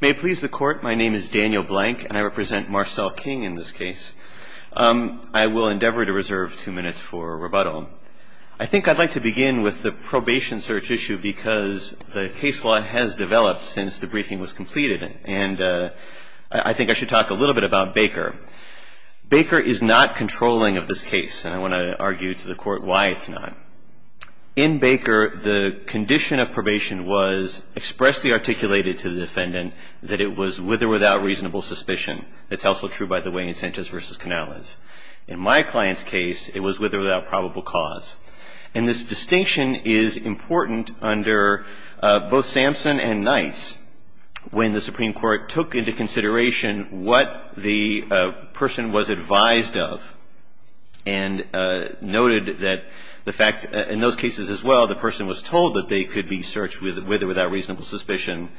May it please the court, my name is Daniel Blank and I represent Marcel King in this case. I will endeavor to reserve two minutes for rebuttal. I think I'd like to begin with the probation search issue because the case law has developed since the briefing was completed. And I think I should talk a little bit about Baker. Baker is not controlling of this case, and I want to argue to the court why it's not. In Baker, the condition of probation was expressly articulated to the defendant that it was with or without reasonable suspicion. That's also true, by the way, in Sanchez v. Canales. In my client's case, it was with or without probable cause. And this distinction is important under both Sampson and Knights when the Supreme Court took into consideration what the person was advised of and noted that the fact, in those cases as well, the person was told that they could be searched with or without reasonable suspicion.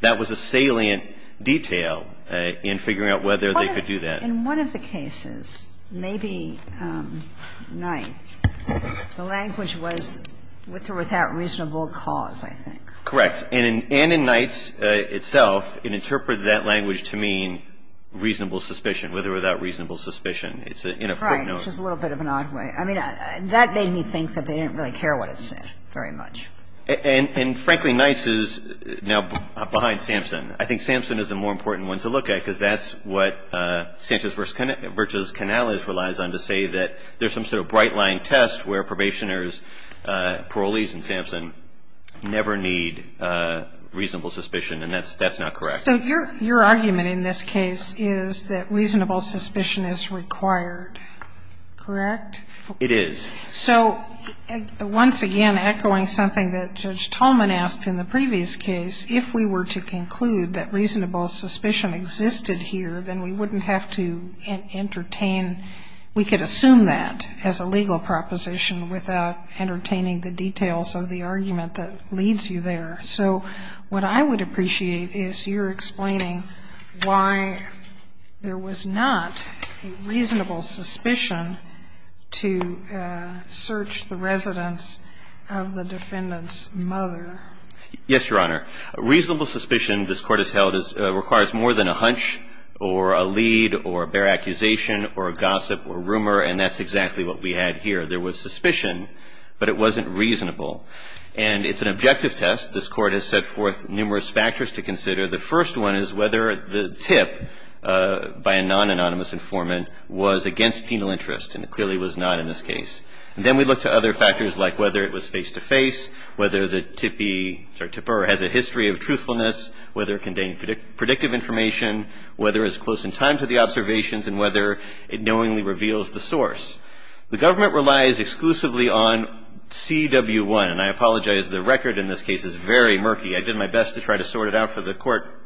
That was a salient detail in figuring out whether they could do that. In one of the cases, maybe Knights, the language was with or without reasonable cause, I think. Correct. And in Knights itself, it interpreted that language to mean reasonable suspicion, with or without reasonable suspicion. It's in a footnote. Right. Just a little bit of an odd way. I mean, that made me think that they didn't really care what it said very much. And, frankly, Knights is now behind Sampson. I think Sampson is the more important one to look at because that's what Sanchez v. Canales relies on to say that there's some sort of bright-line test where probationers, parolees in Sampson, never need reasonable suspicion, and that's not correct. So your argument in this case is that reasonable suspicion is required, correct? It is. So once again, echoing something that Judge Tolman asked in the previous case, if we were to conclude that reasonable suspicion existed here, then we wouldn't have to entertain we could assume that as a legal proposition without entertaining the details of the argument that leads you there. So what I would appreciate is your explaining why there was not a reasonable suspicion to search the residence of the defendant's mother. Yes, Your Honor. Reasonable suspicion, this Court has held, requires more than a hunch or a lead or a bare accusation or a gossip or rumor, and that's exactly what we had here. There was suspicion, but it wasn't reasonable. And it's an objective test. This Court has set forth numerous factors to consider. The first one is whether the tip by a non-anonymous informant was against penal interest, and it clearly was not in this case. And then we look to other factors like whether it was face-to-face, whether the tippee or tipper has a history of truthfulness, whether it contained predictive information, whether it was close in time to the observations, and whether it knowingly reveals the source. The government relies exclusively on CW1, and I apologize. The record in this case is very murky. I did my best to try to sort it out for the Court.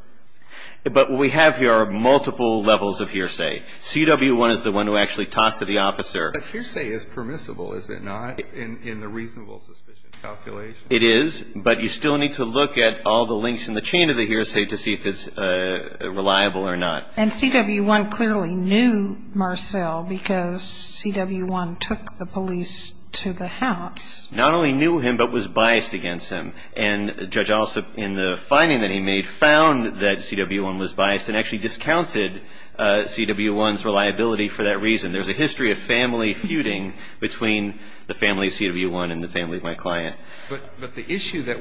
But what we have here are multiple levels of hearsay. CW1 is the one who actually talked to the officer. But hearsay is permissible, is it not, in the reasonable suspicion calculation? It is, but you still need to look at all the links in the chain of the hearsay to see if it's reliable or not. And CW1 clearly knew Marcel because CW1 took the police to the house. Not only knew him, but was biased against him. And Judge Alsop, in the finding that he made, found that CW1 was biased and actually discounted CW1's reliability for that reason. There's a history of family feuding between the family of CW1 and the family of my client. But the issue that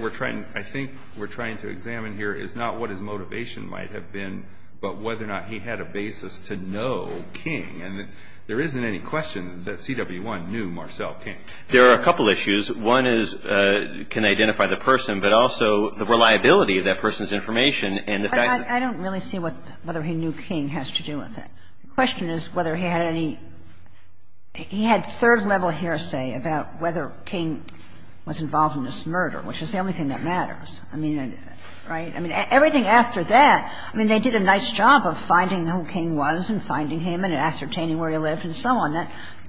I think we're trying to examine here is not what his motivation might have been, but whether or not he had a basis to know King. And there isn't any question that CW1 knew Marcel King. There are a couple of issues. One is, can they identify the person, but also the reliability of that person's information and the fact that they knew him. But I don't really see whether he knew King has to do with it. The question is whether he had any – he had third-level hearsay about whether King was involved in this murder, which is the only thing that matters. I mean, right? I mean, everything after that, I mean, they did a nice job of finding who King was and finding him and ascertaining where he lived and so on.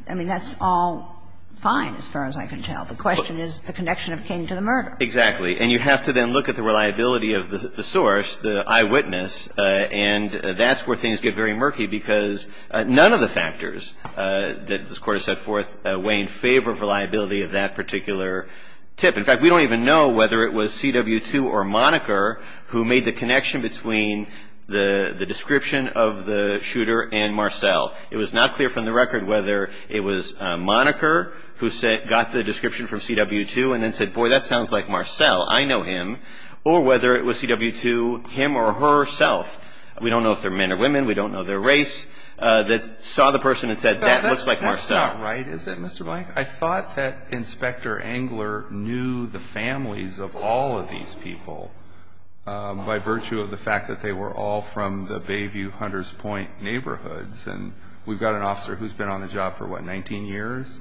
I mean, that's all fine, as far as I can tell. The question is the connection of King to the murder. Exactly. And you have to then look at the reliability of the source, the eyewitness, and that's where things get very murky, because none of the factors that this Court has set forth weigh in favor of reliability of that particular tip. In fact, we don't even know whether it was CW2 or Moniker who made the connection between the description of the shooter and Marcell. It was not clear from the record whether it was Moniker who got the description from CW2 and then said, boy, that sounds like Marcell. I know him. Or whether it was CW2, him or herself. We don't know if they're men or women. We don't know their race. That saw the person and said, that looks like Marcell. That's not right, is it, Mr. Blank? I thought that Inspector Engler knew the families of all of these people by virtue of the fact that they were all from the Bayview-Hunters Point neighborhoods. And we've got an officer who's been on the job for, what, 19 years?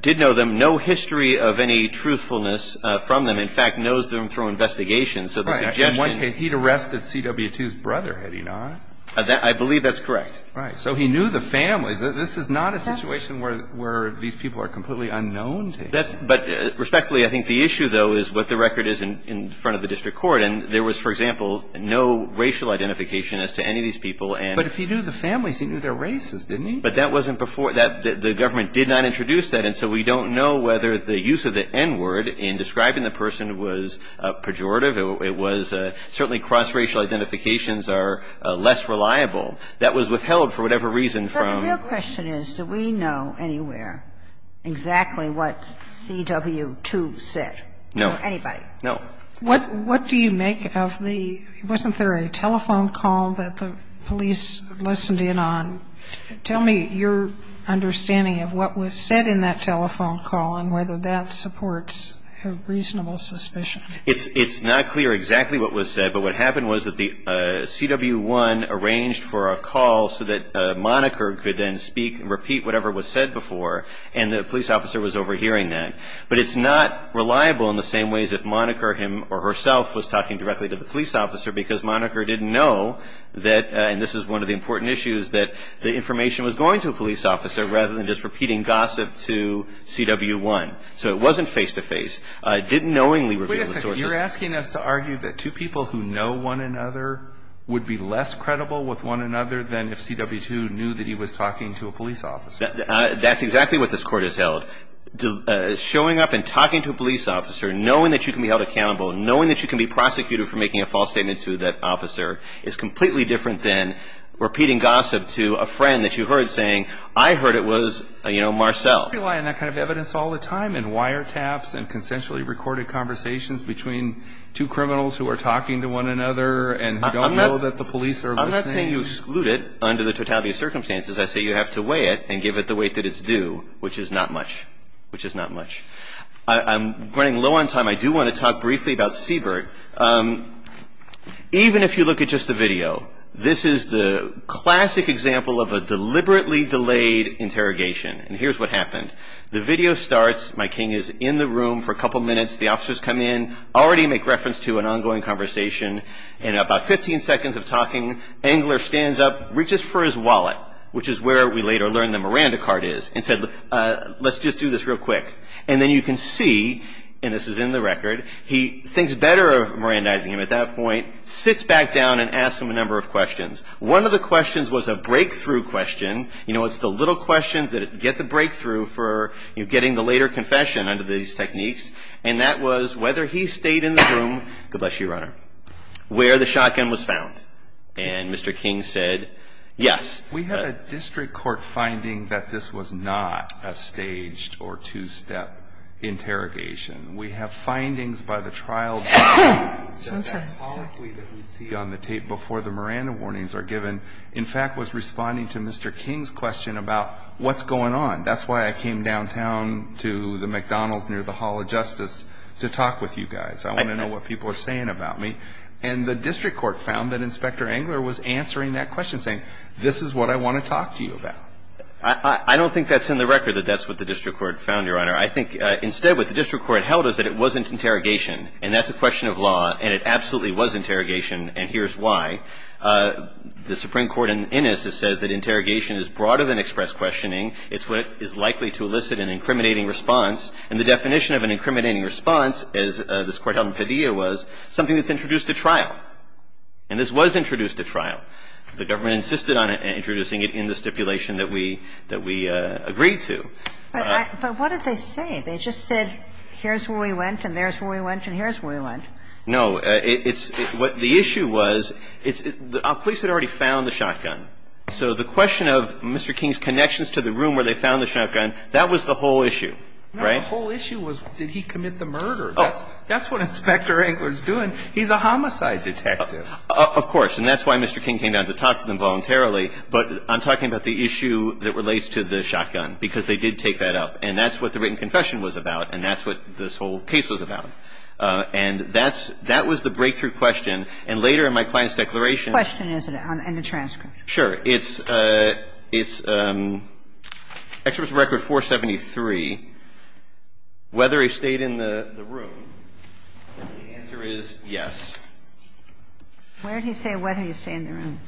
Did know them. No history of any truthfulness from them. In fact, knows them through investigation. So the suggestion he'd arrested CW2's brother, had he not. I believe that's correct. Right. So he knew the families. This is not a situation where these people are completely unknown to him. But respectfully, I think the issue, though, is what the record is in front of the district court. And there was, for example, no racial identification as to any of these people. But if he knew the families, he knew their races, didn't he? But that wasn't before. The government did not introduce that. And so we don't know whether the use of the N-word in describing the person was pejorative. It was certainly cross-racial identifications are less reliable. That was withheld for whatever reason from. The real question is, do we know anywhere exactly what CW2 said? No. Or anybody? No. What do you make of the, wasn't there a telephone call that the police listened in on? Tell me your understanding of what was said in that telephone call and whether that supports a reasonable suspicion. It's not clear exactly what was said. But what happened was that the CW1 arranged for a call so that Moniker could then speak and repeat whatever was said before. And the police officer was overhearing that. But it's not reliable in the same ways if Moniker him or herself was talking directly to the police officer because Moniker didn't know that, and this is one of the important issues, that the information was going to a police officer rather than just repeating gossip to CW1. So it wasn't face-to-face. It didn't knowingly reveal the sources. You're asking us to argue that two people who know one another would be less credible with one another than if CW2 knew that he was talking to a police officer. That's exactly what this Court has held. Showing up and talking to a police officer, knowing that you can be held accountable, knowing that you can be prosecuted for making a false statement to that officer is completely different than repeating gossip to a friend that you heard saying, I heard it was, you know, Marcel. We rely on that kind of evidence all the time in wiretaps and consensually recorded conversations between two criminals who are talking to one another and who don't know that the police are listening. I'm not saying you exclude it under the totality of circumstances. I say you have to weigh it and give it the weight that it's due, which is not much, which is not much. I'm running low on time. I do want to talk briefly about Siebert. Even if you look at just the video, this is the classic example of a deliberately delayed interrogation, and here's what happened. The video starts. My king is in the room for a couple minutes. The officers come in, already make reference to an ongoing conversation. In about 15 seconds of talking, Engler stands up, reaches for his wallet, which is where we later learn the Miranda card is, and said, let's just do this real quick. And then you can see, and this is in the record, he thinks better of Mirandizing him at that point, sits back down and asks him a number of questions. One of the questions was a breakthrough question. You know, it's the little questions that get the breakthrough for getting the later confession under these techniques, and that was whether he stayed in the room, God bless you, Your Honor, where the shotgun was found. And Mr. King said, yes. We have a district court finding that this was not a staged or two-step interrogation. We have findings by the trial that we see on the tape before the Miranda warnings are given, in fact, was responding to Mr. King's question about what's going on. That's why I came downtown to the McDonald's near the Hall of Justice to talk with you guys. I want to know what people are saying about me. And the district court found that Inspector Engler was answering that question, saying, this is what I want to talk to you about. I don't think that's in the record that that's what the district court found, Your Honor. I think instead what the district court held is that it wasn't interrogation, and that's a question of law, and it absolutely was interrogation, and here's why. The Supreme Court in Innis says that interrogation is broader than express questioning. It's what is likely to elicit an incriminating response. And the definition of an incriminating response, as this Court held in Padilla, was something that's introduced at trial. And this was introduced at trial. The government insisted on introducing it in the stipulation that we agreed to. But what did they say? They just said, here's where we went, and there's where we went, and here's where we went. No, it's what the issue was, the police had already found the shotgun. So the question of Mr. King's connections to the room where they found the shotgun, that was the whole issue, right? No, the whole issue was did he commit the murder. That's what Inspector Engler is doing. He's a homicide detective. Of course. And that's why Mr. King came down to talk to them voluntarily. But I'm talking about the issue that relates to the shotgun, because they did take that up. And that's what the written confession was about, and that's what this whole case was about. And that was the breakthrough question. And later in my client's declaration. The question is in the transcript. Sure. It's Exhibit Record 473, whether he stayed in the room. The answer is yes. Where did he say whether he stayed in the room?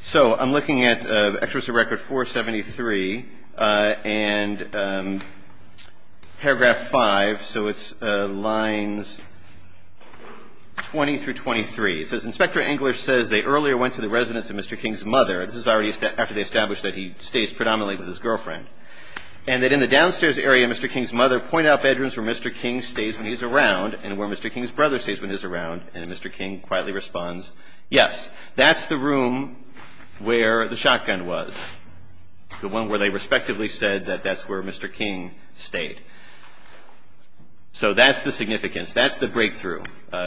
So I'm looking at Exhibit Record 473, and paragraph 5, so it's lines 20 through 23. It says, Inspector Engler says they earlier went to the residence of Mr. King's mother. This is already after they established that he stays predominantly with his girlfriend. And that in the downstairs area, Mr. King's mother pointed out bedrooms where Mr. King stays when he's around and where Mr. King's brother stays when he's around. And Mr. King quietly responds, yes, that's the room where the shotgun was, the one where they respectively said that that's where Mr. King stayed. So that's the significance. That's the breakthrough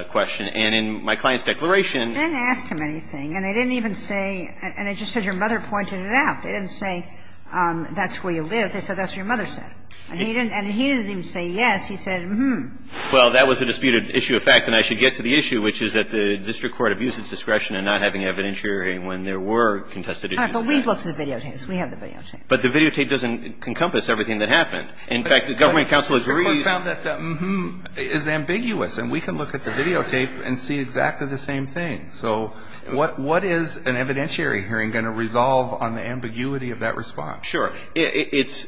question. And in my client's declaration. I didn't ask him anything. And I didn't even say, and it just says your mother pointed it out. They didn't say that's where you live. They said that's what your mother said. And he didn't even say yes. He said, mm-hmm. Well, that was a disputed issue of fact. And I should get to the issue, which is that the district court abused its discretion in not having evidentiary when there were contested issues. All right. But we've looked at the videotapes. We have the videotapes. But the videotape doesn't encompass everything that happened. In fact, the government counsel agrees. The court found that the mm-hmm is ambiguous. And we can look at the videotape and see exactly the same thing. So what is an evidentiary hearing going to resolve on the ambiguity of that response? Sure. It's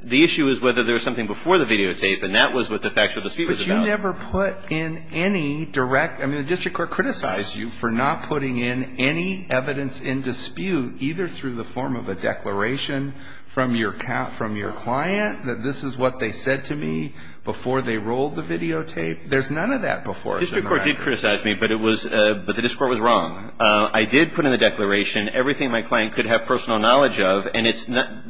the issue is whether there was something before the videotape, and that was what the factual dispute was about. But you never put in any direct, I mean, the district court criticized you for not putting in any evidence in dispute, either through the form of a declaration from your client, that this is what they said to me before they rolled the videotape. There's none of that before. The district court did criticize me, but the district court was wrong. I did put in the declaration everything my client could have personal knowledge of. And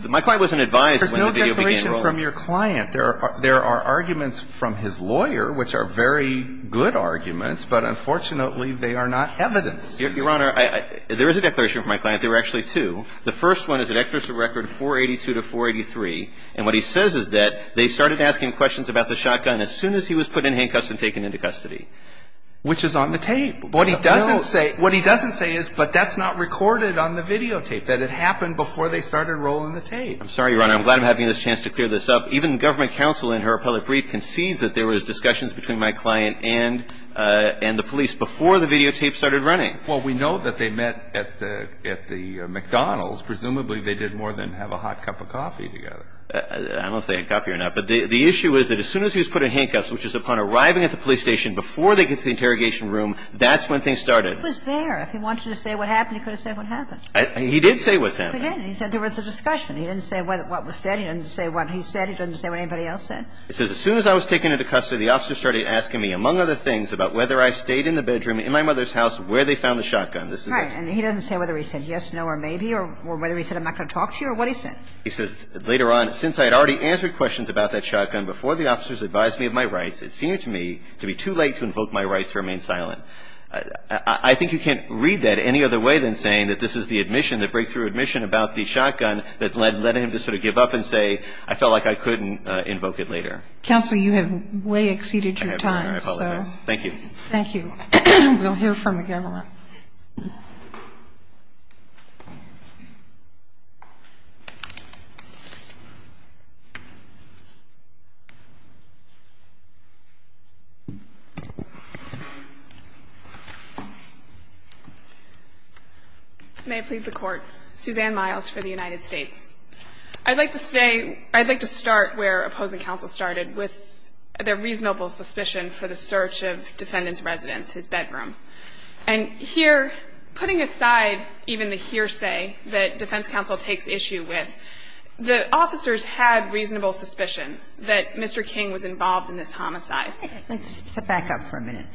my client wasn't advised when the video began to roll. There's no declaration from your client. There are arguments from his lawyer, which are very good arguments. But unfortunately, they are not evidence. Your Honor, there is a declaration from my client. There were actually two. The first one is a record 482 to 483. And what he says is that they started asking questions about the shotgun as soon as he was put in handcuffs and taken into custody. Which is on the tape. What he doesn't say is, but that's not recorded on the videotape, that it happened before they started rolling the tape. I'm sorry, Your Honor. I'm glad I'm having this chance to clear this up. Even the government counsel in her appellate brief concedes that there was discussions between my client and the police before the videotape started running. Well, we know that they met at the McDonald's. Presumably, they did more than have a hot cup of coffee together. I don't know if they had coffee or not. But the issue is that as soon as he was put in handcuffs, which is upon arriving at the police station before they get to the interrogation room, that's when things started. He was there. If he wanted to say what happened, he could have said what happened. He did say what's happened. He did. He said there was a discussion. He didn't say what was said. He didn't say what he said. He didn't say what anybody else said. It says, As soon as I was taken into custody, the officer started asking me, among other things, about whether I stayed in the bedroom in my mother's house where they found the shotgun. Right. And he doesn't say whether he said yes, no, or maybe, or whether he said I'm not going to talk to you or what he said. He says later on, Since I had already answered questions about that shotgun before the officers advised me of my rights, it seemed to me to be too late to invoke my rights to remain silent. I think you can't read that any other way than saying that this is the admission, the breakthrough admission about the shotgun that led him to sort of give up and say, I felt like I couldn't invoke it later. Counsel, you have way exceeded your time. Thank you. Thank you. We'll hear from the government. Ms. Mayer. May it please the Court. Suzanne Miles for the United States. I'd like to say, I'd like to start where opposing counsel started with their reasonable suspicion for the search of defendant's residence, his bedroom. And here, putting aside even the hearsay that defense counsel takes issue with, the officers had reasonable suspicion that Mr. King was involved in this homicide. Let's step back up for a minute.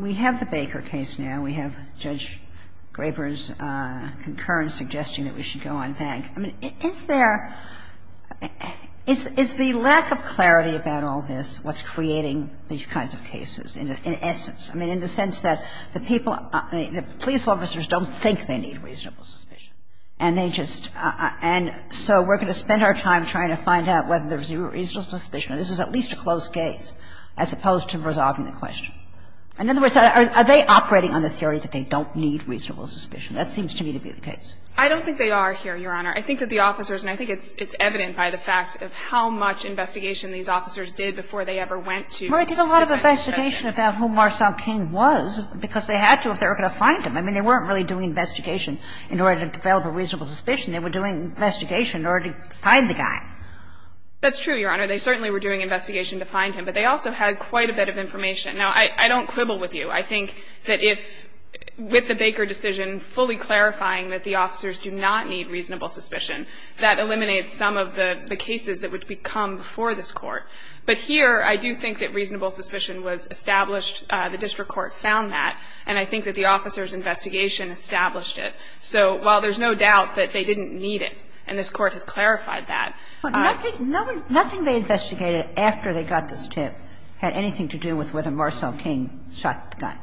We have the Baker case now. We have Judge Graber's concurrent suggestion that we should go on bank. I mean, is there – is the lack of clarity about all this what's creating these kinds of cases in essence? I mean, in the sense that the people – the police officers don't think they need reasonable suspicion. And they just – and so we're going to spend our time trying to find out whether there's a reasonable suspicion. This is at least a close case as opposed to resolving the question. In other words, are they operating on the theory that they don't need reasonable suspicion? That seems to me to be the case. I don't think they are here, Your Honor. I think that the officers – and I think it's evident by the fact of how much investigation these officers did before they ever went to defendants' residence. Kagan did a lot of investigation about who Marcel King was because they had to if they were going to find him. I mean, they weren't really doing investigation in order to develop a reasonable suspicion. They were doing investigation in order to find the guy. That's true, Your Honor. They certainly were doing investigation to find him. But they also had quite a bit of information. Now, I don't quibble with you. I think that if, with the Baker decision fully clarifying that the officers do not need reasonable suspicion, that eliminates some of the cases that would become before this Court. But here, I do think that reasonable suspicion was established. The district court found that. And I think that the officers' investigation established it. So while there's no doubt that they didn't need it, and this Court has clarified that. Kagan, nothing they investigated after they got this tip had anything to do with whether Marcel King shot the guy,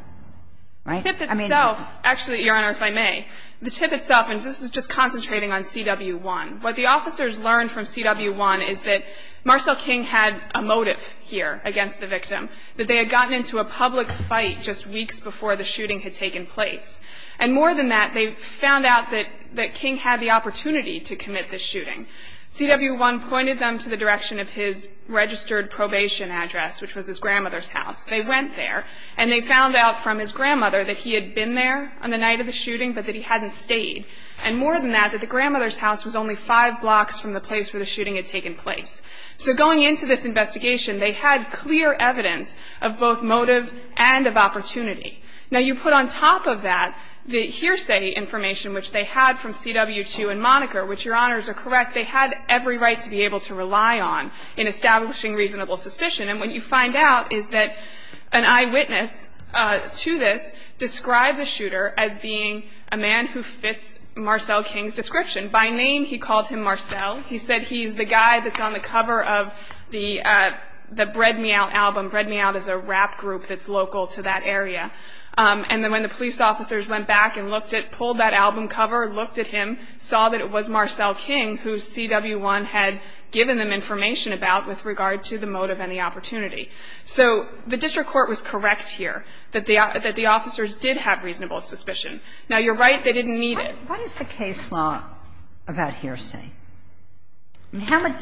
right? The tip itself, actually, Your Honor, if I may, the tip itself, and this is just concentrating on CW1. What the officers learned from CW1 is that Marcel King had a motive here against the victim, that they had gotten into a public fight just weeks before the shooting had taken place. And more than that, they found out that King had the opportunity to commit this shooting. CW1 pointed them to the direction of his registered probation address, which was his grandmother's house. They went there, and they found out from his grandmother that he had been there on the night of the shooting, but that he hadn't stayed. And more than that, that the grandmother's house was only five blocks from the place where the shooting had taken place. So going into this investigation, they had clear evidence of both motive and of opportunity. Now, you put on top of that the hearsay information, which they had from CW2 and Moniker, which, Your Honors, are correct, they had every right to be able to rely on in establishing reasonable suspicion. And what you find out is that an eyewitness to this described the shooter as being a man who fits Marcel King's description. By name, he called him Marcel. He said he's the guy that's on the cover of the Bread Me Out album. Bread Me Out is a rap group that's local to that area. And when the police officers went back and looked at, pulled that album cover, looked at him, saw that it was Marcel King who CW1 had given them information about with regard to the motive and the opportunity. So the district court was correct here, that the officers did have reasonable suspicion. Now, you're right, they didn't need it. Kagan. What is the case law about hearsay? How much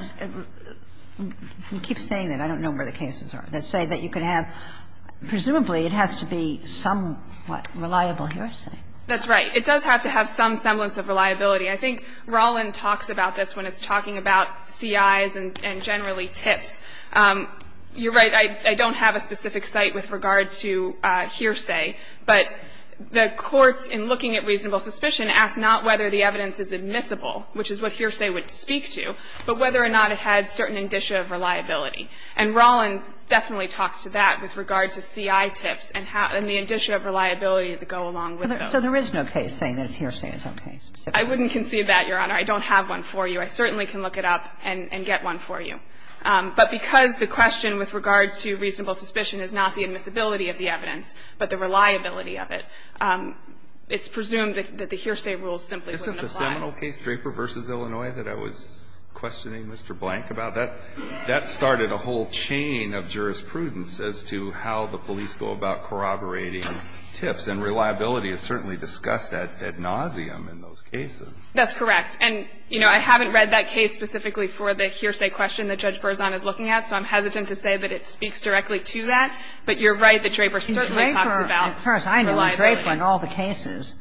do you keep saying that? I don't know where the cases are. They say that you could have, presumably, it has to be somewhat reliable hearsay. That's right. It does have to have some semblance of reliability. I think Rollin talks about this when it's talking about CIs and generally TIFs. You're right. I don't have a specific site with regard to hearsay. But the courts, in looking at reasonable suspicion, ask not whether the evidence is admissible, which is what hearsay would speak to, but whether or not it had certain indicia of reliability. And Rollin definitely talks to that with regard to CI TIFs and the indicia of reliability that go along with those. So there is no case saying that hearsay is okay specifically? I wouldn't concede that, Your Honor. I don't have one for you. I certainly can look it up and get one for you. But because the question with regard to reasonable suspicion is not the admissibility of the evidence, but the reliability of it, it's presumed that the hearsay rules simply wouldn't apply. Isn't the seminal case, Draper v. Illinois, that I was questioning Mr. Blank about? That started a whole chain of jurisprudence as to how the police go about corroborating TIFs. And reliability is certainly discussed ad nauseum in those cases. That's correct. And, you know, I haven't read that case specifically for the hearsay question that Judge Berzon is looking at, so I'm hesitant to say that it speaks directly to that. But you're right that Draper certainly talks about reliability. In Draper, as far as I know, in Draper and all the cases,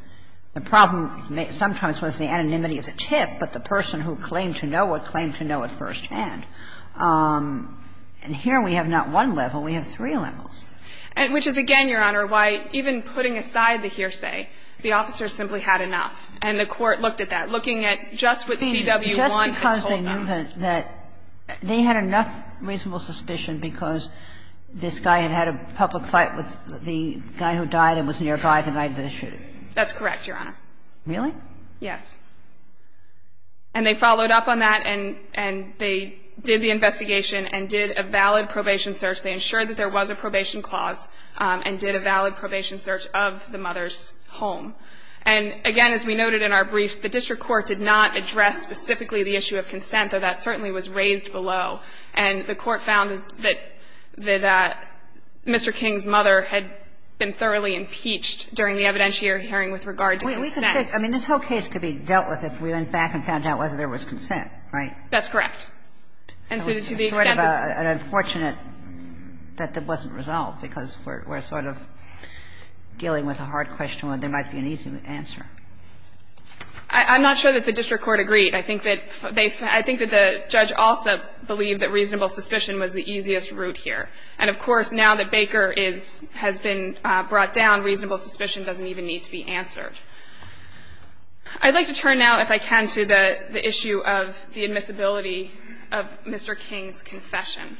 the problem sometimes was the anonymity of the TIF, but the person who claimed to know it claimed to know it firsthand. And here we have not one level. We have three levels. Which is, again, Your Honor, why even putting aside the hearsay, the officers simply had enough. And I'm not saying that they had enough reasonable suspicion because this guy had had a public fight with the guy who died and was nearby the night of the shooting. That's correct, Your Honor. Really? Yes. And they followed up on that and they did the investigation and did a valid probation search. They ensured that there was a probation clause and did a valid probation search of the mother's home. And, again, as we noted in our briefs, the district court did not address specifically the issue of consent, though that certainly was raised below. And the court found that Mr. King's mother had been thoroughly impeached during the evidentiary hearing with regard to consent. We could fix that. I mean, this whole case could be dealt with if we went back and found out whether there was consent, right? That's correct. And so to the extent that the unfortunate that it wasn't resolved, because we're dealing with a hard question, there might be an easy answer. I'm not sure that the district court agreed. I think that they – I think that the judge also believed that reasonable suspicion was the easiest route here. And, of course, now that Baker is – has been brought down, reasonable suspicion doesn't even need to be answered. I'd like to turn now, if I can, to the issue of the admissibility of Mr. King's confession.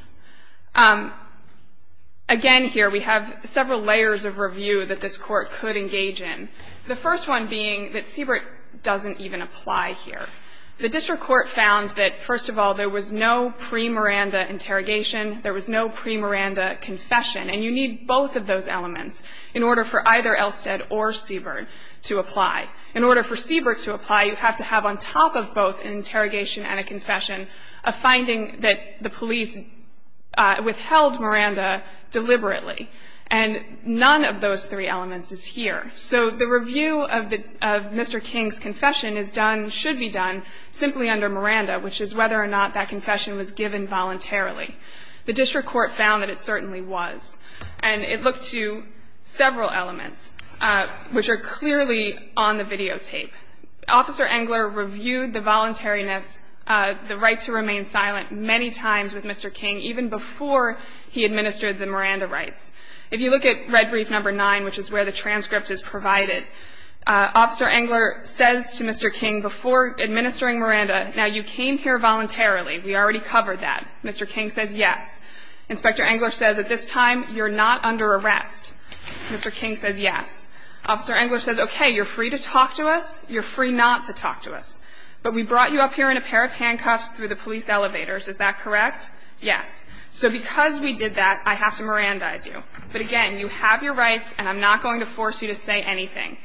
Again, here, we have several layers of review that this court could engage in. The first one being that Siebert doesn't even apply here. The district court found that, first of all, there was no pre-Miranda interrogation. There was no pre-Miranda confession. And you need both of those elements in order for either Elstead or Siebert to apply. In order for Siebert to apply, you have to have on top of both an interrogation and a confession a finding that the police withheld Miranda deliberately. And none of those three elements is here. So the review of Mr. King's confession is done – should be done simply under Miranda, which is whether or not that confession was given voluntarily. The district court found that it certainly was. And it looked to several elements, which are clearly on the videotape. Officer Engler reviewed the voluntariness, the right to remain silent many times with Mr. King, even before he administered the Miranda rights. If you look at red brief number 9, which is where the transcript is provided, Officer Engler says to Mr. King before administering Miranda, now, you came here voluntarily. We already covered that. Mr. King says yes. Inspector Engler says at this time, you're not under arrest. Mr. King says yes. Officer Engler says, okay, you're free to talk to us. You're free not to talk to us. But we brought you up here in a pair of handcuffs through the police elevators. Is that correct? Yes. So because we did that, I have to Mirandize you. But again, you have your rights, and I'm not going to force you to say anything.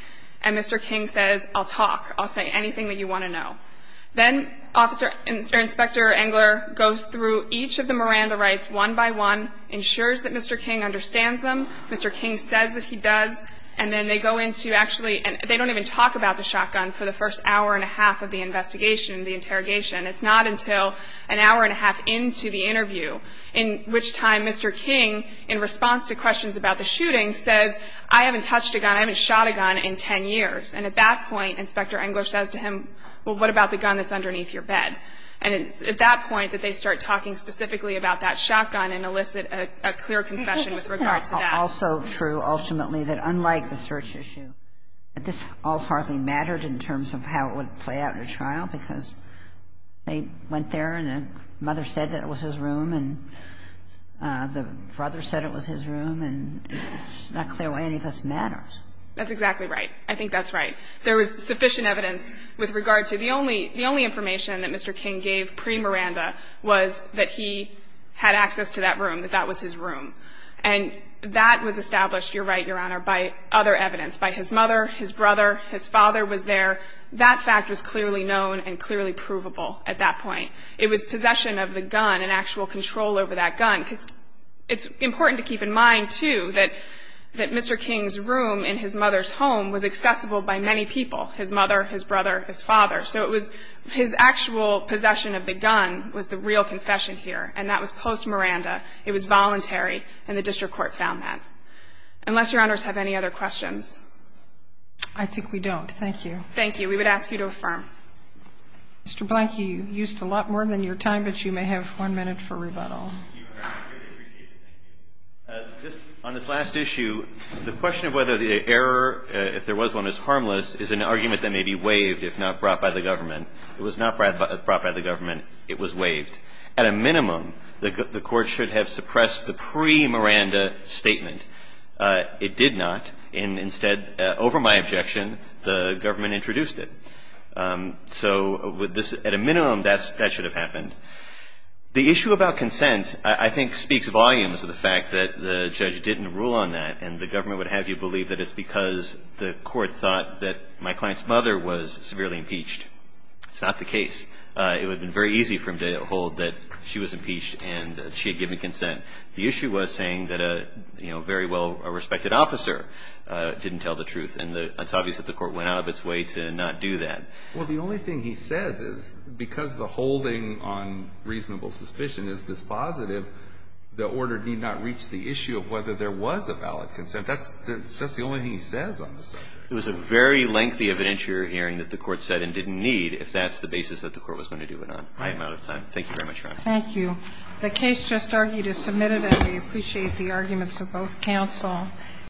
And Mr. King says, I'll talk. I'll say anything that you want to know. Then Officer Inspector Engler goes through each of the Miranda rights one by one, ensures that Mr. King understands them. Mr. King says that he does. And then they go into actually and they don't even talk about the shotgun for the first hour and a half of the investigation, the interrogation. It's not until an hour and a half into the interview, in which time Mr. King, in response to questions about the shooting, says, I haven't touched a gun, I haven't shot a gun in 10 years. And at that point, Inspector Engler says to him, well, what about the gun that's underneath your bed? And it's at that point that they start talking specifically about that shotgun and elicit a clear confession with regard to that. And it's also true, ultimately, that unlike the search issue, that this all partly mattered in terms of how it would play out in a trial, because they went there and the mother said that it was his room and the brother said it was his room, and it's not clear why any of this matters. That's exactly right. I think that's right. There was sufficient evidence with regard to the only the only information that Mr. King gave pre-Miranda was that he had access to that room, that that was his room. And that was established, you're right, Your Honor, by other evidence, by his mother, his brother, his father was there. That fact was clearly known and clearly provable at that point. It was possession of the gun and actual control over that gun, because it's important to keep in mind, too, that Mr. King's room in his mother's home was accessible by many people, his mother, his brother, his father. So it was his actual possession of the gun was the real confession here, and that was post-Miranda. It was voluntary, and the district court found that. Unless Your Honors have any other questions. I think we don't. Thank you. Thank you. We would ask you to affirm. Mr. Blank, you used a lot more than your time, but you may have one minute for rebuttal. On this last issue, the question of whether the error, if there was one, is harmless is an argument that may be waived if not brought by the government. It was not brought by the government. It was waived. At a minimum, the court should have suppressed the pre-Miranda statement. It did not, and instead, over my objection, the government introduced it. So at a minimum, that should have happened. The issue about consent, I think, speaks volumes of the fact that the judge didn't rule on that, and the government would have you believe that it's because the court thought that my client's mother was severely impeached. It's not the case. It would have been very easy for him to hold that she was impeached and she had given consent. The issue was saying that a very well-respected officer didn't tell the truth, and it's obvious that the court went out of its way to not do that. Well, the only thing he says is because the holding on reasonable suspicion is dispositive, the order did not reach the issue of whether there was a valid consent. That's the only thing he says on the subject. It was a very lengthy evidentiary hearing that the court said and didn't need if that's the basis that the court was going to do it on. I'm out of time. Thank you very much, Your Honor. Thank you. The case just argued is submitted, and we appreciate the arguments of both counsel.